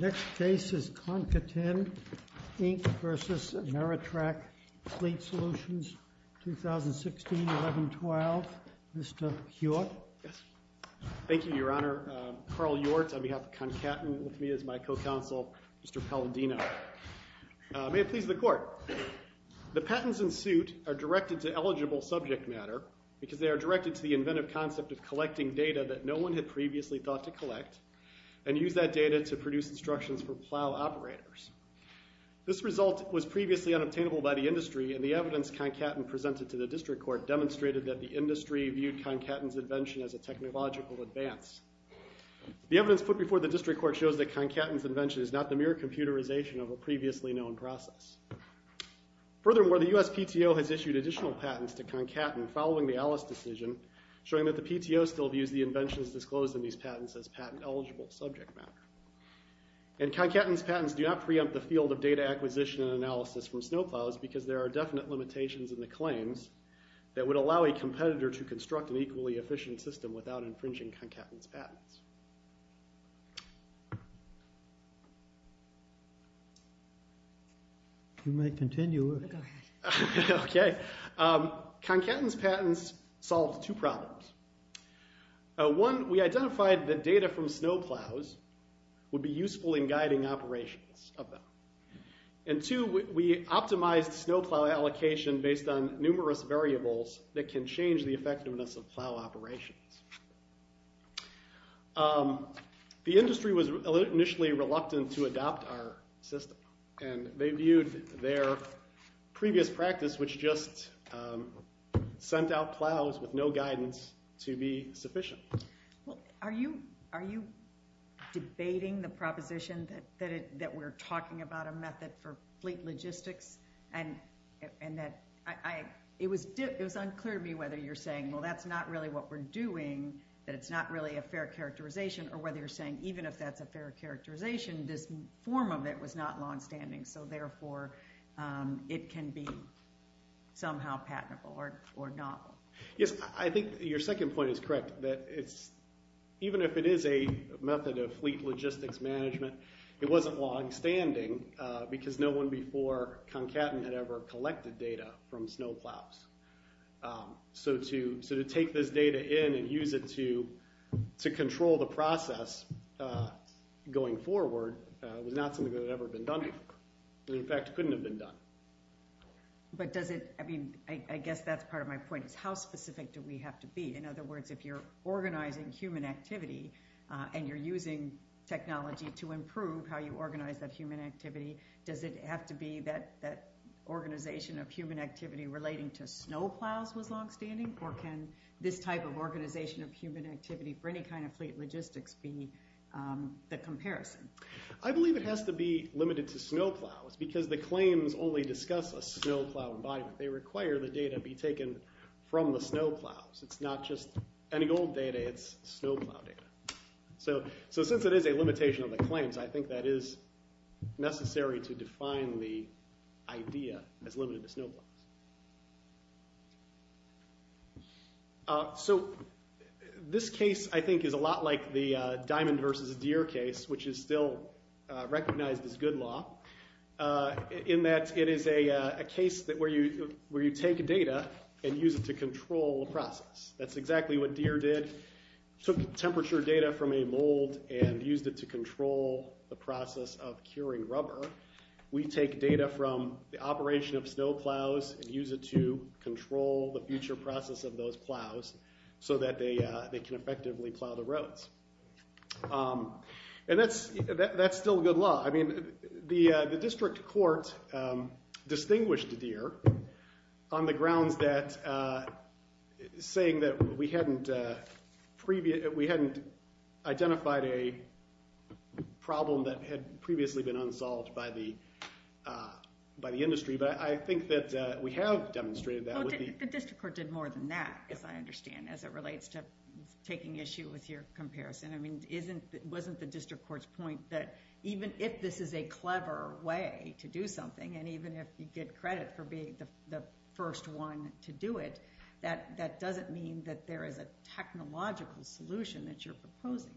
Next case is Concaten, Inc. v. AmeriTrak Fleet Solutions, LLC. Concaten, Inc. v. AmeriTrak Fleet Solutions, 2016-11-12 Mr. Hjort Thank you, Your Honor. Carl Hjort on behalf of Concaten with me as my co-counsel, Mr. Palladino. May it please the Court. The patents in suit are directed to eligible subject matter because they are directed to the inventive concept of collecting data that no one had previously thought to collect and use that data to produce instructions for plow operators. This result was previously unobtainable by the industry, and the evidence Concaten presented to the District Court demonstrated that the industry viewed Concaten's invention as a technological advance. The evidence put before the District Court shows that Concaten's invention is not the mere computerization of a previously known process. Furthermore, the U.S. PTO has issued additional patents to Concaten following the Alice decision, showing that the PTO still views the inventions disclosed in these patents as patent-eligible subject matter. And Concaten's patents do not preempt the field of data acquisition and analysis from snow plows because there are definite limitations in the claims that would allow a competitor to construct an equally efficient system without infringing Concaten's patents. You may continue. Okay. Concaten's patents solved two problems. One, we identified that data from snow plows would be useful in guiding operations of them. And two, we optimized snow plow allocation based on numerous variables that can change the effectiveness of plow operations. The industry was initially reluctant to adopt our system, and they viewed their previous practice, which just sent out plows with no guidance, to be sufficient. Well, are you debating the proposition that we're talking about a method for fleet logistics? And that it was unclear to me whether you're saying, well, that's not really what we're doing, that it's not really a fair characterization, or whether you're saying even if that's a fair characterization, this form of it was not longstanding. So, therefore, it can be somehow patentable or not. Yes, I think your second point is correct, that even if it is a method of fleet logistics management, it wasn't longstanding because no one before Concaten had ever collected data from snow plows. So to take this data in and use it to control the process going forward was not something that had ever been done before. It, in fact, couldn't have been done. But does it, I mean, I guess that's part of my point, is how specific do we have to be? In other words, if you're organizing human activity and you're using technology to improve how you organize that human activity, does it have to be that organization of human activity relating to snow plows was longstanding? Or can this type of organization of human activity for any kind of fleet logistics be the comparison? I believe it has to be limited to snow plows because the claims only discuss a snow plow embodiment. They require the data be taken from the snow plows. It's not just any old data. It's snow plow data. So since it is a limitation of the claims, I think that is necessary to define the idea as limited to snow plows. So this case, I think, is a lot like the diamond versus deer case, which is still recognized as good law in that it is a case where you take data and use it to control the process. That's exactly what deer did. Took temperature data from a mold and used it to control the process of curing rubber. We take data from the operation of snow plows and use it to control the future process of those plows so that they can effectively plow the roads. And that's still good law. I mean, the district court distinguished deer on the grounds that saying that we hadn't identified a problem that had previously been unsolved by the industry. But I think that we have demonstrated that. The district court did more than that, as I understand, as it relates to taking issue with your comparison. It wasn't the district court's point that even if this is a clever way to do something, and even if you get credit for being the first one to do it, that doesn't mean that there is a technological solution that you're proposing.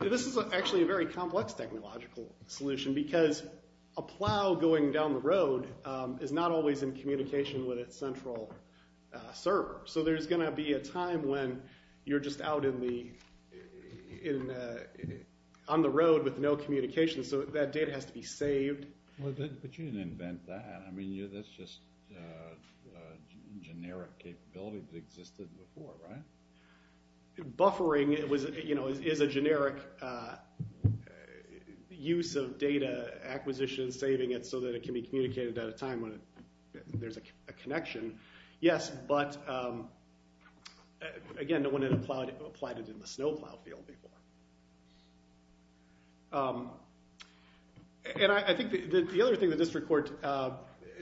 This is actually a very complex technological solution, because a plow going down the road is not always in communication with its central server. So there's going to be a time when you're just out on the road with no communication, so that data has to be saved. But you didn't invent that. I mean, that's just a generic capability that existed before, right? Buffering is a generic use of data acquisition, saving it so that it can be communicated at a time when there's a connection. Yes, but again, no one had applied it in the snow plow field before. And I think the other thing the district court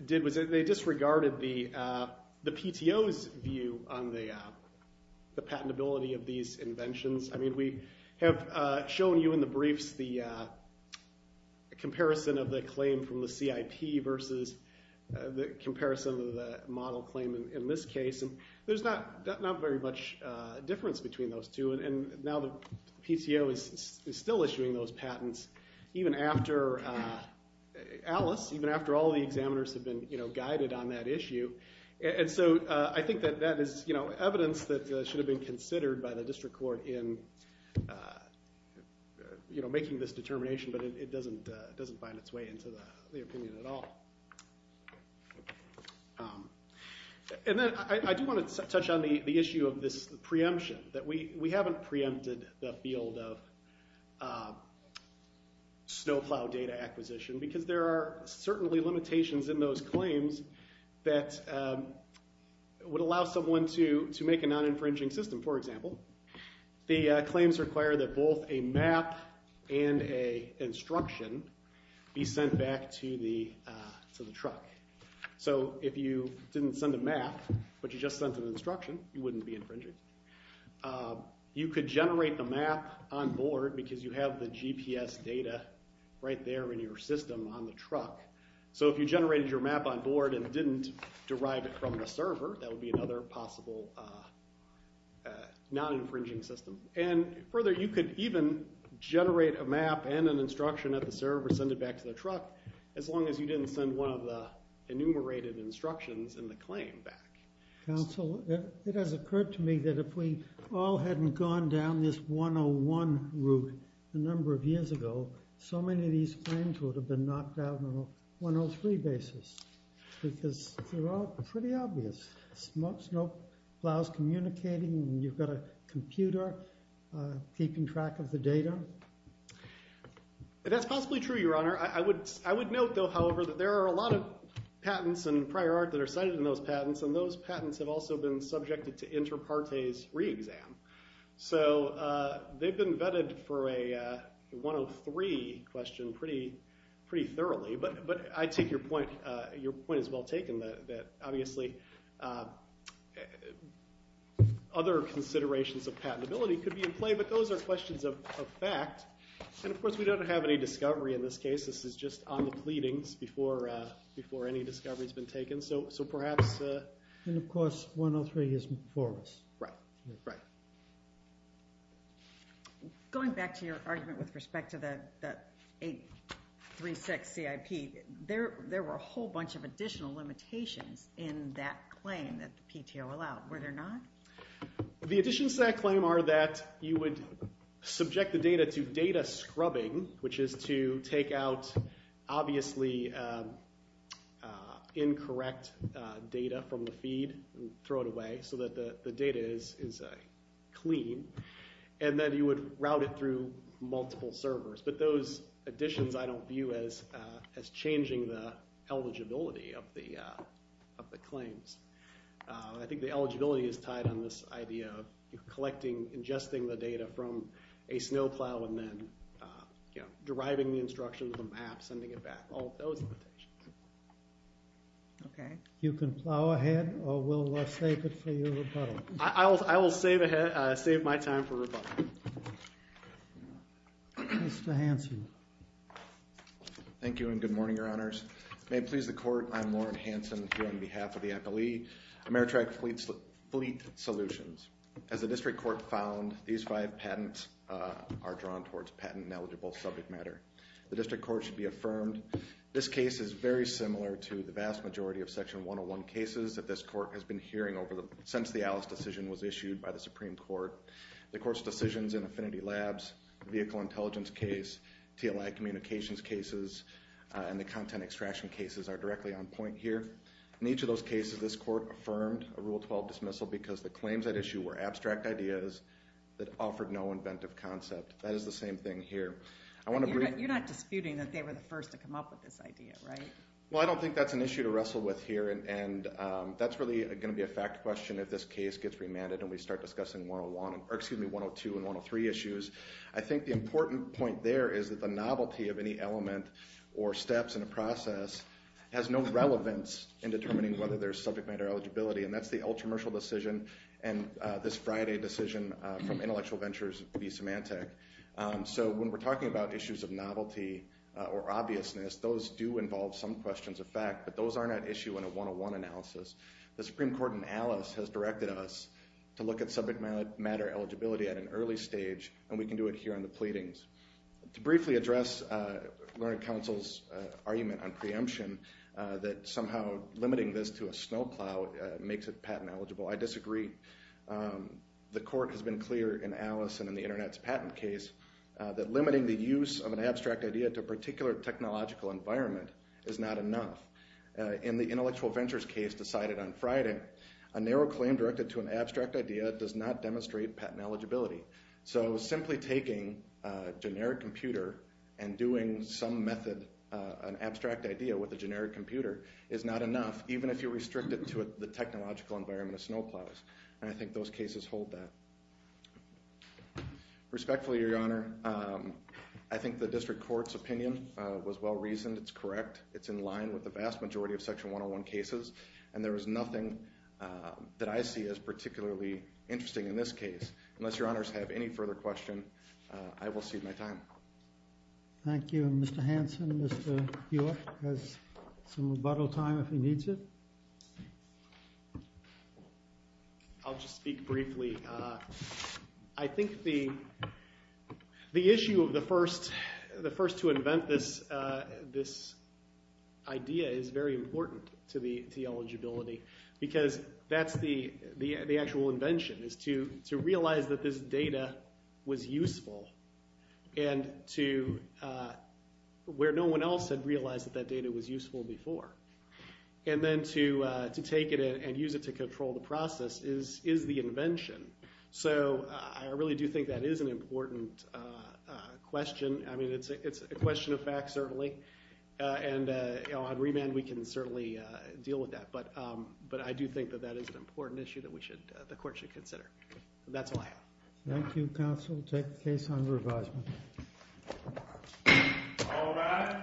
did was they disregarded the PTO's view on the patentability of these inventions. I mean, we have shown you in the briefs the comparison of the claim from the CIP versus the comparison of the model claim in this case. And there's not very much difference between those two. And now the PTO is still issuing those patents, even after Alice, even after all the examiners have been guided on that issue. And so I think that that is evidence that should have been considered by the district court in making this determination. But it doesn't find its way into the opinion at all. And then I do want to touch on the issue of this preemption, that we haven't preempted the field of snow plow data acquisition. Because there are certainly limitations in those claims that would allow someone to make a non-infringing system. For example, the claims require that both a map and a instruction be sent back to the truck. So if you didn't send a map, but you just sent an instruction, you wouldn't be infringing. You could generate the map on board, because you have the GPS data right there in your system on the truck. So if you generated your map on board and didn't derive it from the server, that would be another possible non-infringing system. And further, you could even generate a map and an instruction at the server, send it back to the truck, as long as you didn't send one of the enumerated instructions in the claim back. Counsel, it has occurred to me that if we all hadn't gone down this 101 route a number of years ago, so many of these claims would have been knocked down on a 103 basis. Because they're all pretty obvious. Snow plows communicating, and you've got a computer keeping track of the data. That's possibly true, Your Honor. I would note, though, however, that there are a lot of patents and prior art that are cited in those patents. And those patents have also been subjected to inter partes re-exam. So they've been vetted for a 103 question pretty thoroughly. But I take your point as well taken, that obviously other considerations of patentability could be in play. But those are questions of fact. And of course, we don't have any discovery in this case. This is just on the pleadings before any discovery has been taken. And of course, 103 is for us. Right. Going back to your argument with respect to the 836 CIP, there were a whole bunch of additional limitations in that claim that the PTO allowed. Were there not? The additions to that claim are that you would subject the data to data scrubbing, which is to take out obviously incorrect data from the feed and throw it away so that the data is clean. And then you would route it through multiple servers. But those additions I don't view as changing the eligibility of the claims. I think the eligibility is tied on this idea of collecting, ingesting the data from a snow plow and then deriving the instructions of the map, sending it back. All of those limitations. You can plow ahead or we'll save it for your rebuttal. I will save my time for rebuttal. Mr. Hanson. Thank you and good morning, your honors. May it please the court. I'm Loren Hanson here on behalf of the FLE Ameritrack Fleet Solutions. As the district court found, these five patents are drawn towards patent ineligible subject matter. The district court should be affirmed. This case is very similar to the vast majority of Section 101 cases that this court has been hearing since the Alice decision was issued by the Supreme Court. The court's decisions in Affinity Labs, vehicle intelligence case, TLI communications cases, and the content extraction cases are directly on point here. In each of those cases, this court affirmed a Rule 12 dismissal because the claims at issue were abstract ideas that offered no inventive concept. That is the same thing here. You're not disputing that they were the first to come up with this idea, right? Well, I don't think that's an issue to wrestle with here and that's really going to be a fact question if this case gets remanded and we start discussing 102 and 103 issues. I think the important point there is that the novelty of any element or steps in a process has no relevance in determining whether there's subject matter eligibility. And that's the ultra-mercial decision and this Friday decision from Intellectual Ventures v. Symantec. So when we're talking about issues of novelty or obviousness, those do involve some questions of fact, but those aren't at issue in a 101 analysis. The Supreme Court in Alice has directed us to look at subject matter eligibility at an early stage and we can do it here on the pleadings. To briefly address Learning Council's argument on preemption that somehow limiting this to a snowplow makes it patent eligible, I disagree. The court has been clear in Alice and in the Internet's patent case that limiting the use of an abstract idea to a particular technological environment is not enough. In the Intellectual Ventures case decided on Friday, a narrow claim directed to an abstract idea does not demonstrate patent eligibility. So simply taking a generic computer and doing some method, an abstract idea with a generic computer, is not enough even if you restrict it to the technological environment of snowplows. And I think those cases hold that. Respectfully, Your Honor, I think the District Court's opinion was well reasoned. It's correct. It's in line with the vast majority of Section 101 cases and there is nothing that I see as particularly interesting in this case. Unless Your Honors have any further question, I will cede my time. Thank you. And Mr. Hanson, Mr. Buech has some rebuttal time if he needs it. I'll just speak briefly. I think the issue of the first to invent this idea is very important to the eligibility because that's the actual invention is to realize that this data was useful and to where no one else had realized that that data was useful before. And then to take it and use it to control the process is the invention. So I really do think that is an important question. I mean, it's a question of fact, certainly. And on remand, we can certainly deal with that. But I do think that that is an important issue that we should, the court should consider. That's all I have. Thank you, counsel. Take the case under advisement. All rise.